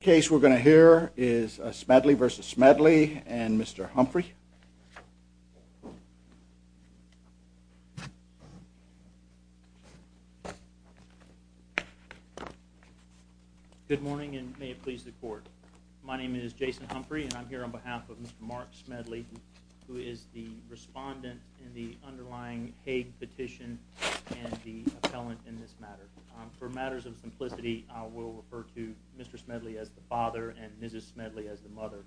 The case we're going to hear is Smedley v. Smedley and Mr. Humphrey. Good morning and may it please the court. My name is Jason Humphrey and I'm here on behalf of Mr. Mark Smedley, who is the respondent in the underlying Hague petition and the appellant in this matter. For matters of simplicity, I will refer to Mr. Smedley as the father and Mrs. Smedley as the mother.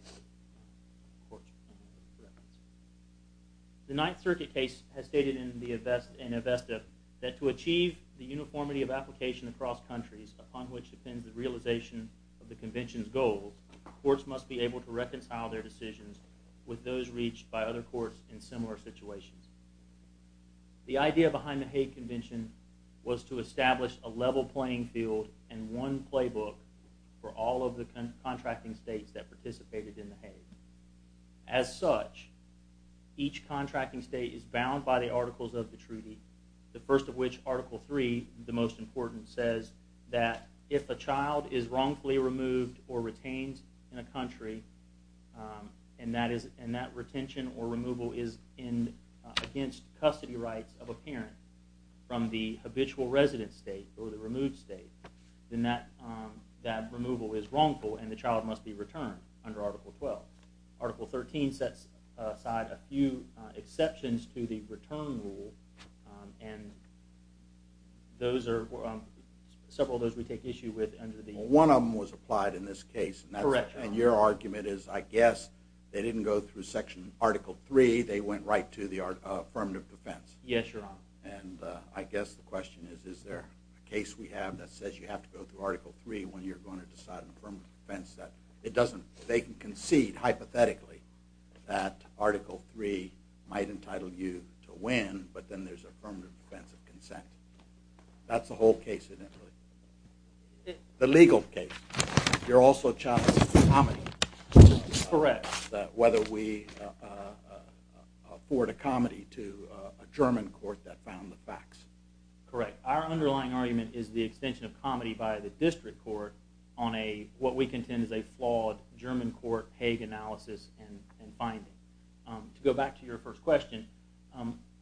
The Ninth Circuit case has stated in Avesta that to achieve the uniformity of application across countries, upon which depends the realization of the Convention's goals, courts must be able to reconcile their decisions with those reached by other courts in similar situations. The idea behind the Hague Convention was to establish a level playing field and one playbook for all of the contracting states that participated in the Hague. As such, each contracting state is bound by the Articles of the Treaty, the first of which, Article III, the most important, says that if a child is wrongfully removed or retained in a country and that retention or removal is against custody rights of a parent from the habitual resident state or the removed state, then that removal is wrongful and the child must be returned under Article XII. Article XIII sets aside a few exceptions to the return rule and several of those we take issue with. One of them was applied in this case. Correct, Your Honor. And your argument is, I guess, they didn't go through Section Article III, they went right to the Affirmative Defense. Yes, Your Honor. And I guess the question is, is there a case we have that says you have to go through Article III when you're going to decide on Affirmative Defense that it doesn't, they can concede hypothetically that Article III might entitle you to win, but then there's Affirmative Defense of consent. That's the whole case, isn't it, really? The legal case. You're also challenging comedy. Correct. Whether we afford a comedy to a German court that found the facts. Correct. Our underlying argument is the extension of comedy by the district court on what we contend is a flawed German court Hague analysis and finding. To go back to your first question,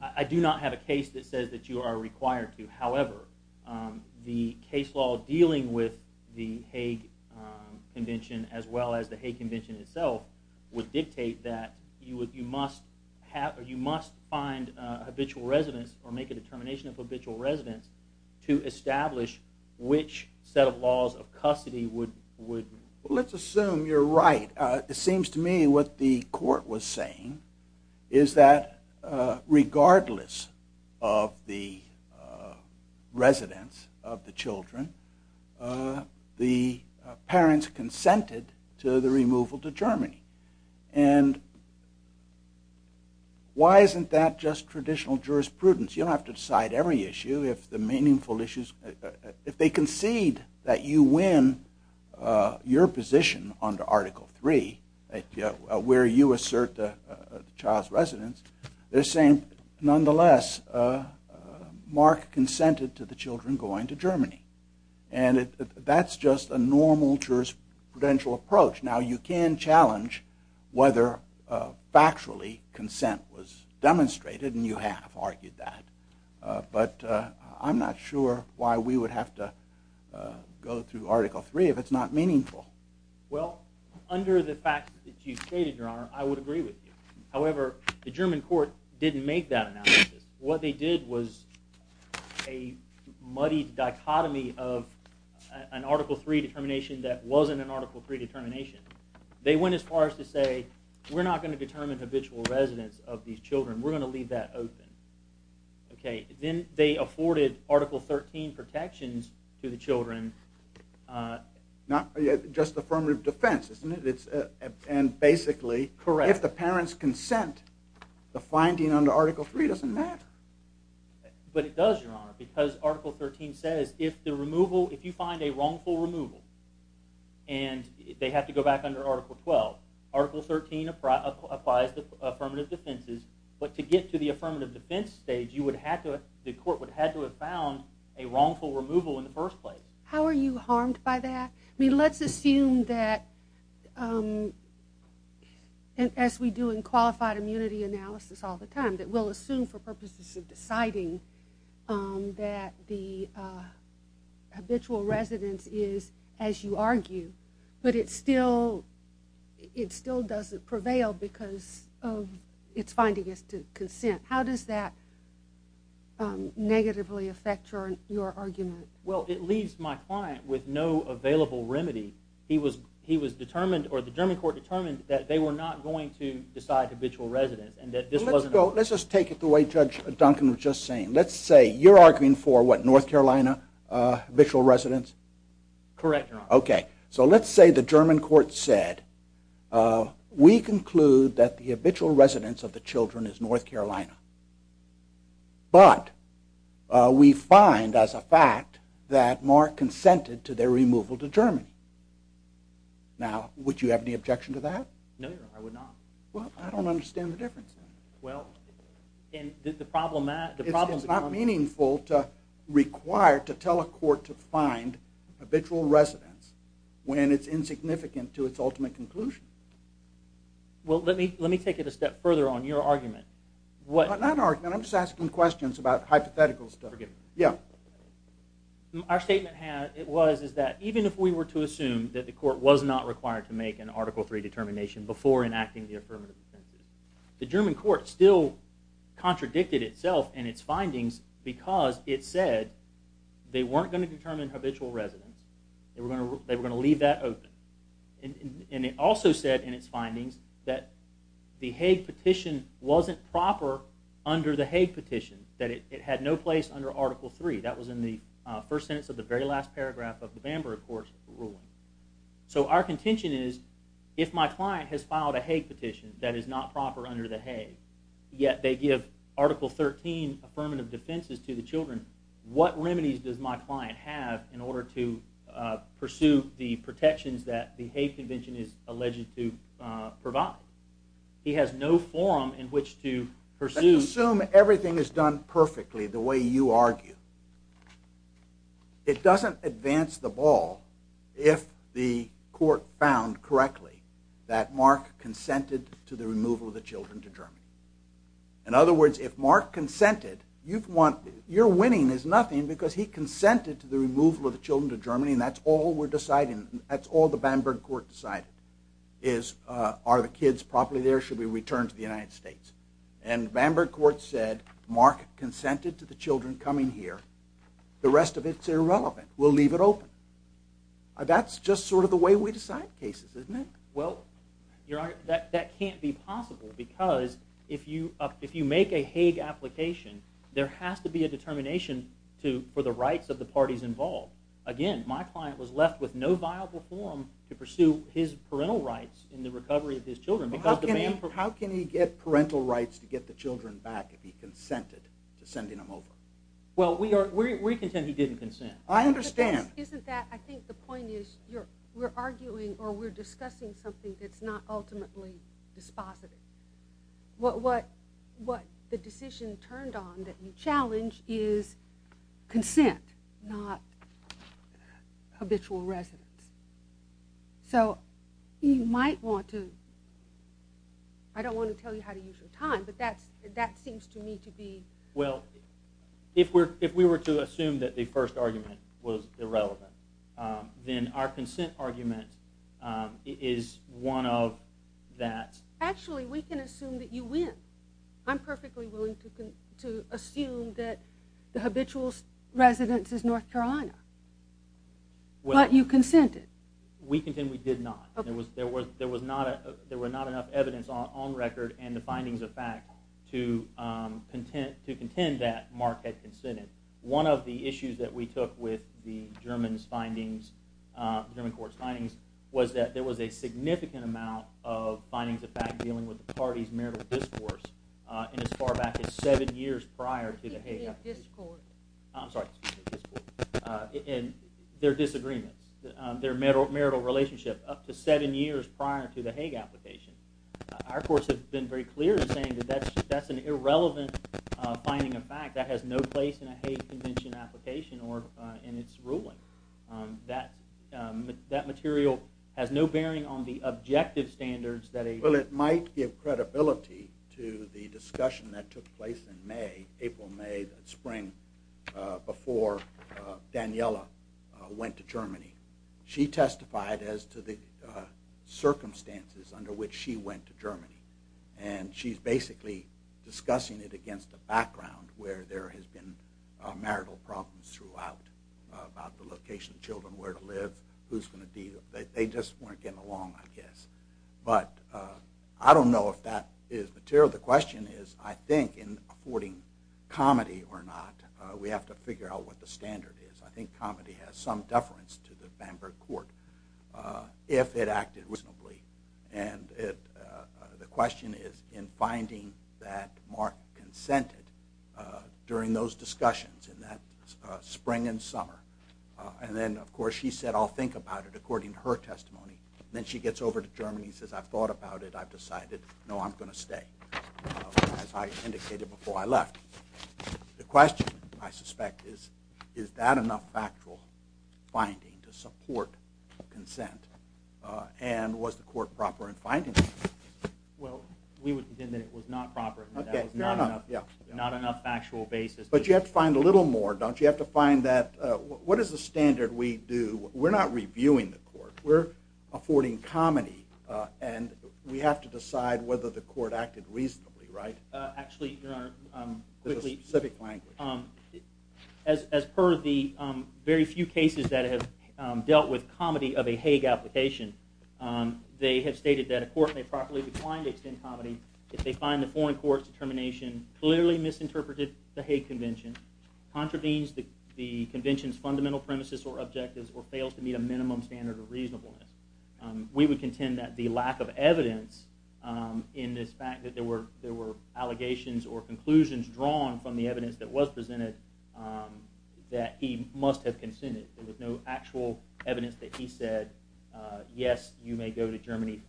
I do not have a case that says that you are required to. However, the case law dealing with the Hague Convention as well as the Hague Convention itself would dictate that you must find habitual residents or make a determination of habitual residents to establish which set of laws of custody would... Let's assume you're right. It seems to me what the court was saying is that regardless of the residence of the children, the parents consented to the removal to Germany. And why isn't that just traditional jurisprudence? You don't have to decide every issue. If they concede that you win your position under Article 3, where you assert the child's residence, they're saying, nonetheless, Mark consented to the children going to Germany. And that's just a normal jurisprudential approach. Now, you can challenge whether factually consent was demonstrated, and you have argued that. But I'm not sure why we would have to go through Article 3 if it's not meaningful. Well, under the fact that you stated, Your Honor, I would agree with you. However, the German court didn't make that analysis. What they did was a muddy dichotomy of an Article 3 determination that wasn't an Article 3 determination. They went as far as to say, we're not going to determine habitual residents of these children. We're going to leave that open. Then they afforded Article 13 protections to the children. Not just affirmative defense, isn't it? And basically, if the parents consent, the finding under Article 3 doesn't matter. But it does, Your Honor, because Article 13 says if you find a wrongful removal, and they have to go back under Article 12, Article 13 applies to affirmative defenses. But to get to the affirmative defense stage, the court would have to have found a wrongful removal in the first place. How are you harmed by that? I mean, let's assume that, as we do in qualified immunity analysis all the time, that we'll assume for purposes of deciding that the habitual residence is, as you argue. But it still doesn't prevail because of its finding as to consent. How does that negatively affect your argument? Well, it leaves my client with no available remedy. The German court determined that they were not going to decide habitual residence. Let's just take it the way Judge Duncan was just saying. Let's say you're arguing for, what, North Carolina habitual residence? Correct, Your Honor. Okay. So let's say the German court said, we conclude that the habitual residence of the children is North Carolina. But we find, as a fact, that Mark consented to their removal to Germany. Now, would you have any objection to that? No, Your Honor, I would not. Well, I don't understand the difference. It's not meaningful to require, to tell a court to find habitual residence when it's insignificant to its ultimate conclusion. Well, let me take it a step further on your argument. Not an argument. I'm just asking questions about hypothetical stuff. Forgive me. Yeah. Our statement was that even if we were to assume that the court was not required to make an Article III determination before enacting the affirmative defense, the German court still contradicted itself and its findings because it said they weren't going to determine habitual residence. They were going to leave that open. And it also said in its findings that the Hague petition wasn't proper under the Hague petition, that it had no place under Article III. That was in the first sentence of the very last paragraph of the Bamberg Court's ruling. So our contention is, if my client has filed a Hague petition that is not proper under the Hague, yet they give Article XIII affirmative defenses to the children, what remedies does my client have in order to pursue the protections that the Hague Convention is alleged to provide? He has no forum in which to pursue. Let's assume everything is done perfectly the way you argue. It doesn't advance the ball if the court found correctly that Mark consented to the removal of the children to Germany. In other words, if Mark consented, your winning is nothing because he consented to the removal of the children to Germany, and that's all the Bamberg Court decided is, are the kids properly there, should we return to the United States? And Bamberg Court said, Mark consented to the children coming here. The rest of it is irrelevant. We'll leave it open. That's just sort of the way we decide cases, isn't it? Well, Your Honor, that can't be possible because if you make a Hague application, there has to be a determination for the rights of the parties involved. Again, my client was left with no viable forum to pursue his parental rights in the recovery of his children. How can he get parental rights to get the children back if he consented to sending them over? Well, we contend he didn't consent. I understand. Isn't that, I think the point is, we're arguing or we're discussing something that's not ultimately dispositive. What the decision turned on that you challenge is consent, not habitual residence. So you might want to, I don't want to tell you how to use your time, but that seems to me to be. Well, if we were to assume that the first argument was irrelevant, then our consent argument is one of that. Actually, we can assume that you win. I'm perfectly willing to assume that the habitual residence is North Carolina, but you consented. We contend we did not. There was not enough evidence on record and the findings of fact to contend that Mark had consented. One of the issues that we took with the German court's findings was that there was a significant amount of findings of fact dealing with the party's marital discourse in as far back as seven years prior to the Hague application. Discord. I'm sorry, discord. And their disagreements, their marital relationship up to seven years prior to the Hague application. Our courts have been very clear in saying that that's an irrelevant finding of fact. That has no place in a Hague Convention application or in its ruling. That material has no bearing on the objective standards that a Well, it might give credibility to the discussion that took place in May, April, May, that spring, before Daniella went to Germany. She testified as to the circumstances under which she went to Germany, and she's basically discussing it against a background where there has been marital problems throughout about the location of children, where to live, who's going to deal. They just weren't getting along, I guess. But I don't know if that is material. The question is, I think, in affording comedy or not, we have to figure out what the standard is. I think comedy has some deference to the Bamberg court if it acted reasonably. And the question is in finding that Mark consented during those discussions in that spring and summer. And then, of course, she said, I'll think about it according to her testimony. Then she gets over to Germany and says, I've thought about it. I've decided, no, I'm going to stay, as I indicated before I left. The question, I suspect, is, is that enough factual finding to support consent? And was the court proper in finding that? Well, we would contend that it was not proper. That was not enough factual basis. But you have to find a little more, don't you? You have to find that. What is the standard we do? We're not reviewing the court. We're affording comedy. And we have to decide whether the court acted reasonably, right? Actually, Your Honor, quickly. There's a specific language. As per the very few cases that have dealt with comedy of a Hague application, they have stated that a court may properly decline to extend comedy if they find the foreign court's determination clearly misinterpreted the Hague Convention, contravenes the Convention's fundamental premises or objectives, or fails to meet a minimum standard of reasonableness. We would contend that the lack of evidence in this fact that there were allegations or conclusions drawn from the evidence that was presented that he must have consented. There was no actual evidence that he said, yes, you may go to Germany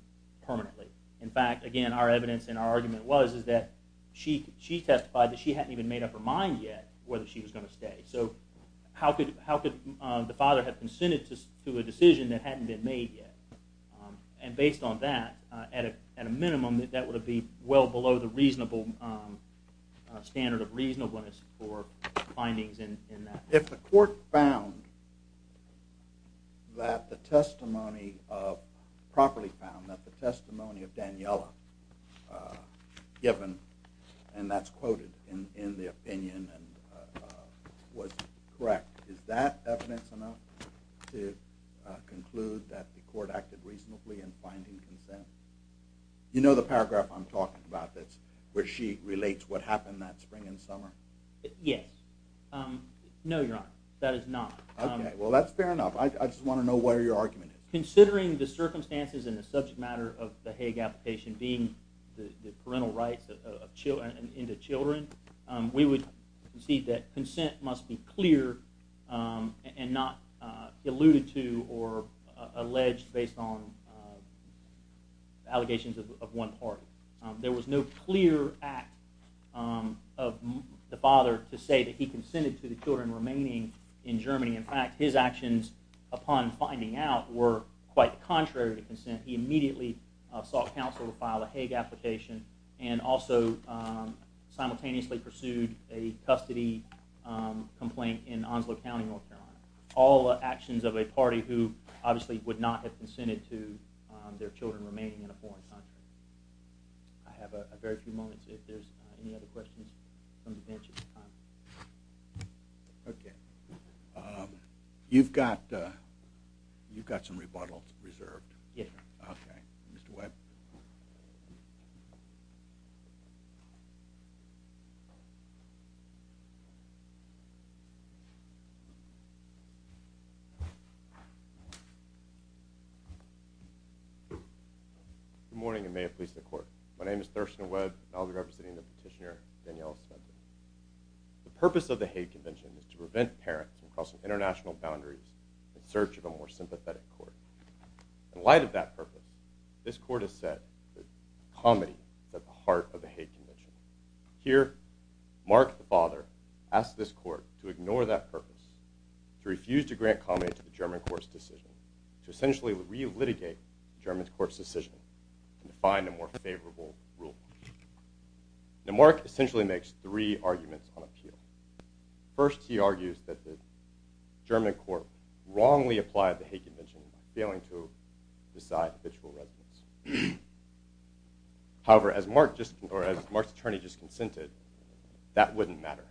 permanently. In fact, again, our evidence and our argument was that she testified that she hadn't even made up her mind yet whether she was going to stay. So how could the father have consented to a decision that hadn't been made yet? And based on that, at a minimum, that would be well below the reasonable standard of reasonableness for findings in that. If the court found that the testimony of—properly found that the testimony of Daniela given, and that's quoted in the opinion and was correct, is that evidence enough to conclude that the court acted reasonably in finding consent? You know the paragraph I'm talking about that's where she relates what happened that spring and summer? Yes. No, Your Honor, that is not. Okay, well that's fair enough. I just want to know what your argument is. Considering the circumstances and the subject matter of the Hague application being the parental rights into children, we would concede that consent must be clear and not alluded to or alleged based on allegations of one party. There was no clear act of the father to say that he consented to the children remaining in Germany. In fact, his actions upon finding out were quite contrary to consent. He immediately sought counsel to file a Hague application and also simultaneously pursued a custody complaint in Onslow County, North Carolina. All actions of a party who obviously would not have consented to their children remaining in a foreign country. I have a very few moments if there's any other questions from the bench at this time. Okay. You've got some rebuttals reserved. Yes, Your Honor. Okay. Mr. Webb. Good morning and may it please the Court. My name is Thurston Webb and I'll be representing the petitioner, Danielle Spencer. The purpose of the Hague Convention is to prevent parents from crossing international boundaries in search of a more sympathetic court. In light of that purpose, this Court has set comedy at the heart of the Hague Convention. Here, Mark, the father, asks this Court to ignore that purpose, to refuse to grant comedy to the German Court's decision, to essentially re-litigate the German Court's decision and to find a more favorable rule. Now, Mark essentially makes three arguments on appeal. First, he argues that the German Court wrongly applied the Hague Convention by failing to decide habitual residence. However, as Mark's attorney just consented, that wouldn't matter.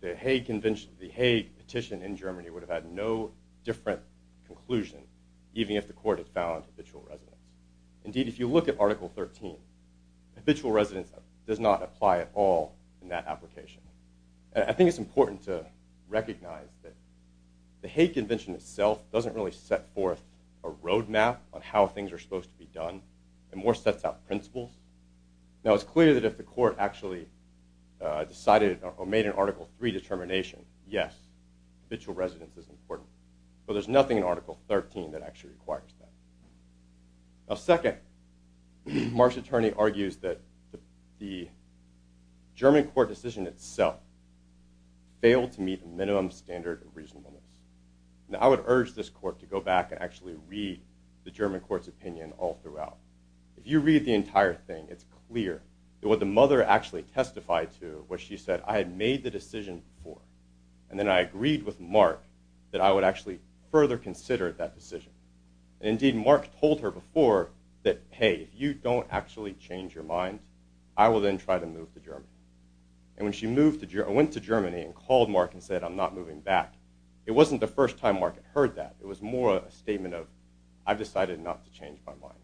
The Hague Petition in Germany would have had no different conclusion, even if the Court had found habitual residence. Indeed, if you look at Article 13, habitual residence does not apply at all in that application. I think it's important to recognize that the Hague Convention itself doesn't really set forth a road map on how things are supposed to be done, and more sets out principles. Now, it's clear that if the Court actually decided or made an Article 3 determination, yes, habitual residence is important. But there's nothing in Article 13 that actually requires that. Now, second, Mark's attorney argues that the German Court decision itself failed to meet a minimum standard of reasonableness. Now, I would urge this Court to go back and actually read the German Court's opinion all throughout. If you read the entire thing, it's clear that what the mother actually testified to was she said, I had made the decision before, and then I agreed with Mark that I would actually further consider that decision. Indeed, Mark told her before that, hey, if you don't actually change your mind, I will then try to move to Germany. And when she went to Germany and called Mark and said, I'm not moving back, it wasn't the first time Mark had heard that. It was more a statement of, I've decided not to change my mind.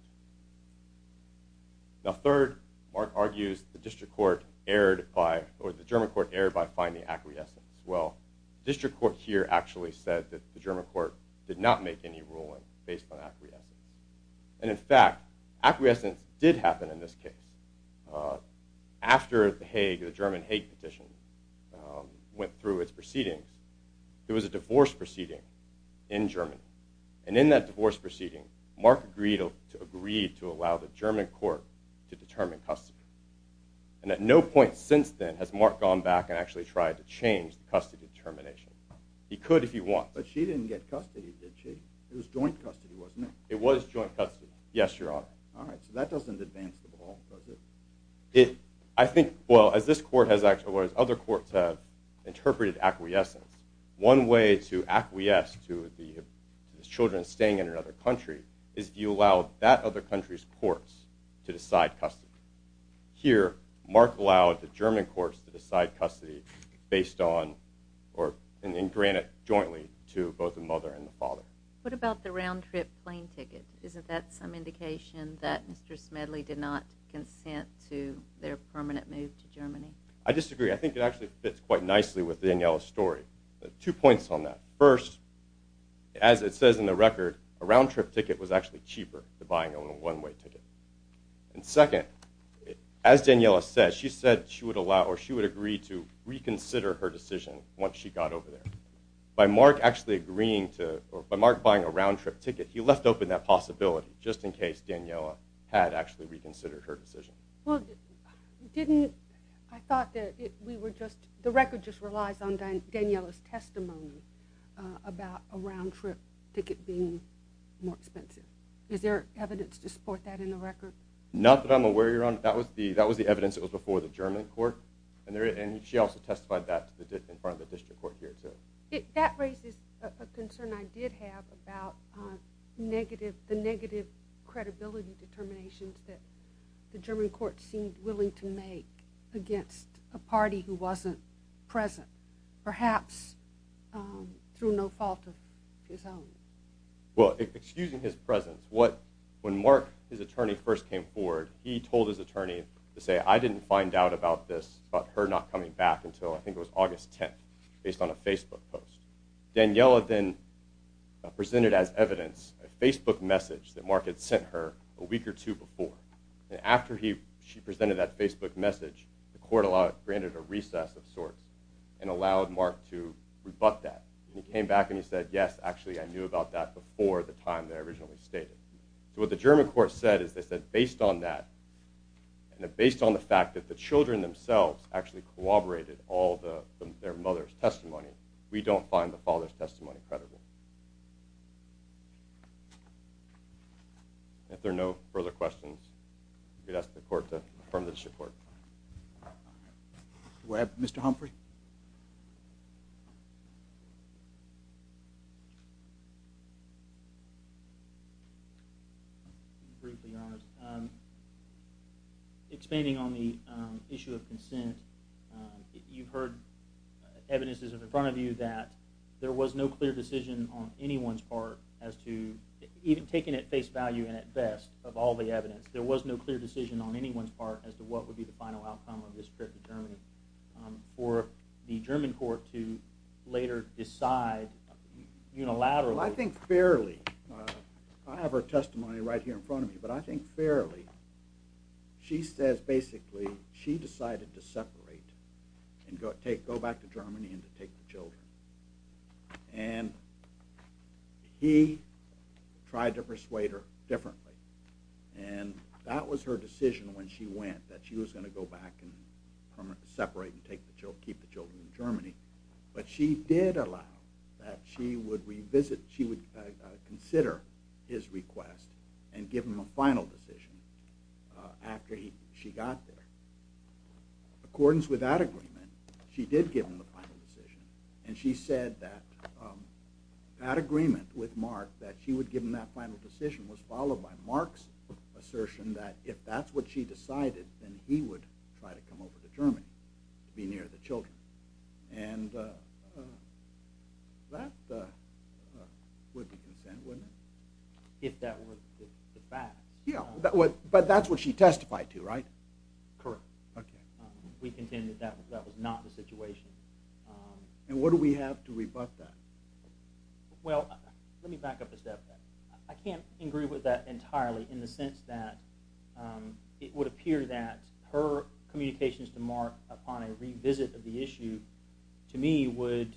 Now, third, Mark argues the German Court erred by finding acquiescence. Well, the District Court here actually said that the German Court did not make any ruling based on acquiescence. And in fact, acquiescence did happen in this case. After the German Hague petition went through its proceedings, there was a divorce proceeding in Germany. And in that divorce proceeding, Mark agreed to allow the German Court to determine custody. And at no point since then has Mark gone back and actually tried to change the custody determination. He could if he wants. But she didn't get custody, did she? It was joint custody, wasn't it? It was joint custody, yes, Your Honor. All right, so that doesn't advance the ball, does it? I think, well, as other courts have interpreted acquiescence, one way to acquiesce to the children staying in another country is if you allow that other country's courts to decide custody. Here, Mark allowed the German courts to decide custody based on, and granted jointly to both the mother and the father. What about the round-trip plane ticket? Isn't that some indication that Mr. Smedley did not consent to their permanent move to Germany? I disagree. I think it actually fits quite nicely with Daniela's story. Two points on that. First, as it says in the record, a round-trip ticket was actually cheaper than buying a one-way ticket. And second, as Daniela said, she said she would allow or she would agree to reconsider her decision once she got over there. By Mark actually agreeing to, or by Mark buying a round-trip ticket, he left open that possibility just in case Daniela had actually reconsidered her decision. Well, didn't, I thought that we were just, the record just relies on Daniela's testimony about a round-trip ticket being more expensive. Is there evidence to support that in the record? Not that I'm aware, Your Honor. That was the evidence that was before the German court. And she also testified that in front of the district court here, too. That raises a concern I did have about the negative credibility determinations that the German court seemed willing to make against a party who wasn't present, perhaps through no fault of his own. Well, excusing his presence, when Mark, his attorney, first came forward, he told his attorney to say, I didn't find out about this, about her not coming back until, I think it was August 10th, based on a Facebook post. Daniela then presented as evidence a Facebook message that Mark had sent her a week or two before. And after she presented that Facebook message, the court granted a recess of sorts and allowed Mark to rebut that. And he came back and he said, yes, actually I knew about that before the time that I originally stated. So what the German court said is that based on that, and based on the fact that the children themselves actually corroborated all their mother's testimony, we don't find the father's testimony credible. If there are no further questions, I'm going to ask the court to affirm the district court. Do I have Mr. Humphrey? Briefly, Your Honors. Expanding on the issue of consent, you've heard evidences in front of you that there was no clear decision on anyone's part as to, even taken at face value and at best, of all the evidence, there was no clear decision on anyone's part as to what would be the final outcome of this trip to Germany for the German court to later decide unilaterally. Well, I think fairly. I have her testimony right here in front of me. But I think fairly. She says basically she decided to separate and go back to Germany and to take the children. And he tried to persuade her differently. And that was her decision when she went, that she was going to go back and separate and keep the children in Germany. But she did allow that she would consider his request and give him a final decision after she got there. According to that agreement, she did give him the final decision. And she said that that agreement with Mark, that she would give him that final decision, was followed by Mark's assertion that if that's what she decided, then he would try to come over to Germany to be near the children. And that would be consent, wouldn't it? If that were the fact. Yeah, but that's what she testified to, right? Correct. Okay. We contend that that was not the situation. And what do we have to rebut that? Well, let me back up a step there. I can't agree with that entirely in the sense that it would appear that her communications to Mark upon a revisit of the issue, to me, would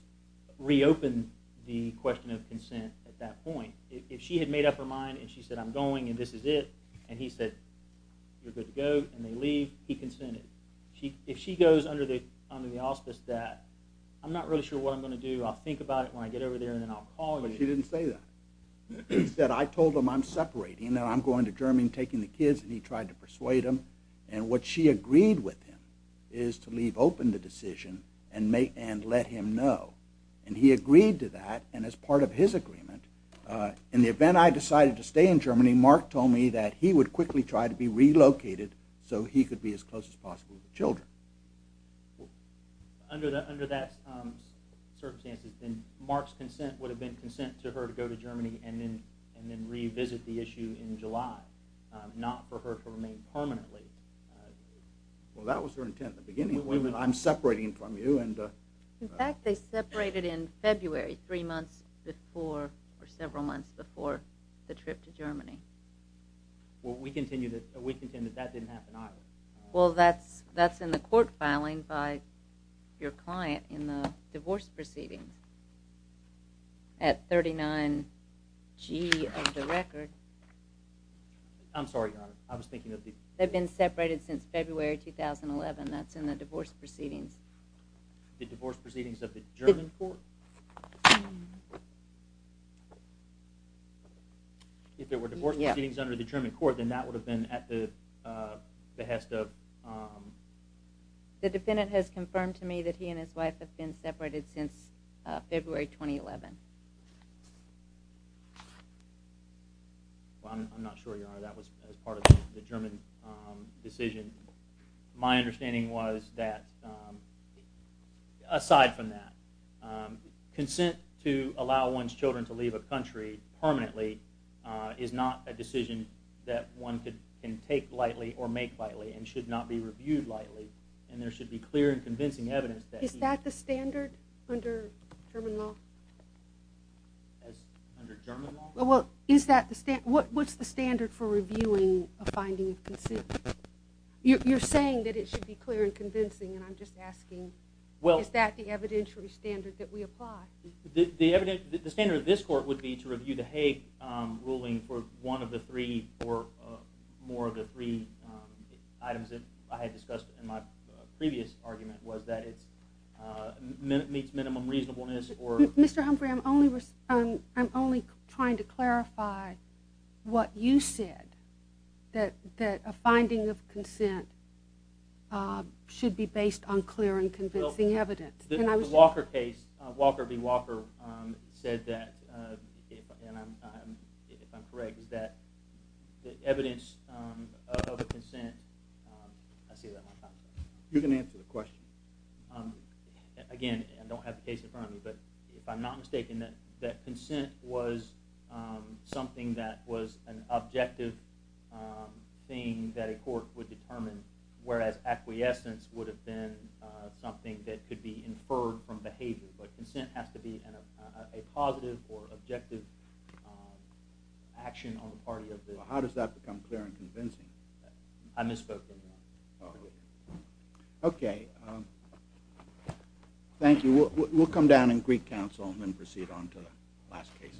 reopen the question of consent at that point. If she had made up her mind and she said, I'm going and this is it, and he said, you're good to go, and they leave, he consented. If she goes under the auspice that, I'm not really sure what I'm going to do, I'll think about it when I get over there and then I'll call you. She didn't say that. Instead, I told him I'm separating, that I'm going to Germany and taking the kids, and he tried to persuade him. And what she agreed with him is to leave open the decision and let him know. And he agreed to that. And as part of his agreement, in the event I decided to stay in Germany, Mark told me that he would quickly try to be relocated so he could be as close as possible to the children. Under that circumstance, then Mark's consent would have been consent to her to go to Germany and then revisit the issue in July, not for her to remain permanently. Well, that was her intent in the beginning. I'm separating from you. In fact, they separated in February, three months before, or several months before the trip to Germany. Well, we contend that that didn't happen either. Well, that's in the court filing by your client in the divorce proceeding. At 39G of the record. I'm sorry, Your Honor. I was thinking of the... The divorce proceedings of the German court? If there were divorce proceedings under the German court, then that would have been at the behest of... The defendant has confirmed to me that he and his wife have been separated since February 2011. Well, I'm not sure, Your Honor, that was as part of the German decision. My understanding was that, aside from that, consent to allow one's children to leave a country permanently is not a decision that one can take lightly or make lightly and should not be reviewed lightly. And there should be clear and convincing evidence that... Is that the standard under German law? Under German law? What's the standard for reviewing a finding of consent? You're saying that it should be clear and convincing, and I'm just asking, is that the evidentiary standard that we apply? The standard of this court would be to review the Haig ruling for one of the three or more of the three items that I had discussed in my previous argument was that it meets minimum reasonableness or... Mr. Humphrey, I'm only trying to clarify what you said, that a finding of consent should be based on clear and convincing evidence. The Walker case, Walker v. Walker, said that, if I'm correct, is that the evidence of consent... You can answer the question. Again, I don't have the case in front of me, but if I'm not mistaken, that consent was something that was an objective thing that a court would determine, whereas acquiescence would have been something that could be inferred from behavior. But consent has to be a positive or objective action on the part of the... Well, how does that become clear and convincing? I misspoke there. Okay. Thank you. We'll come down in Greek Council and proceed on to the last case.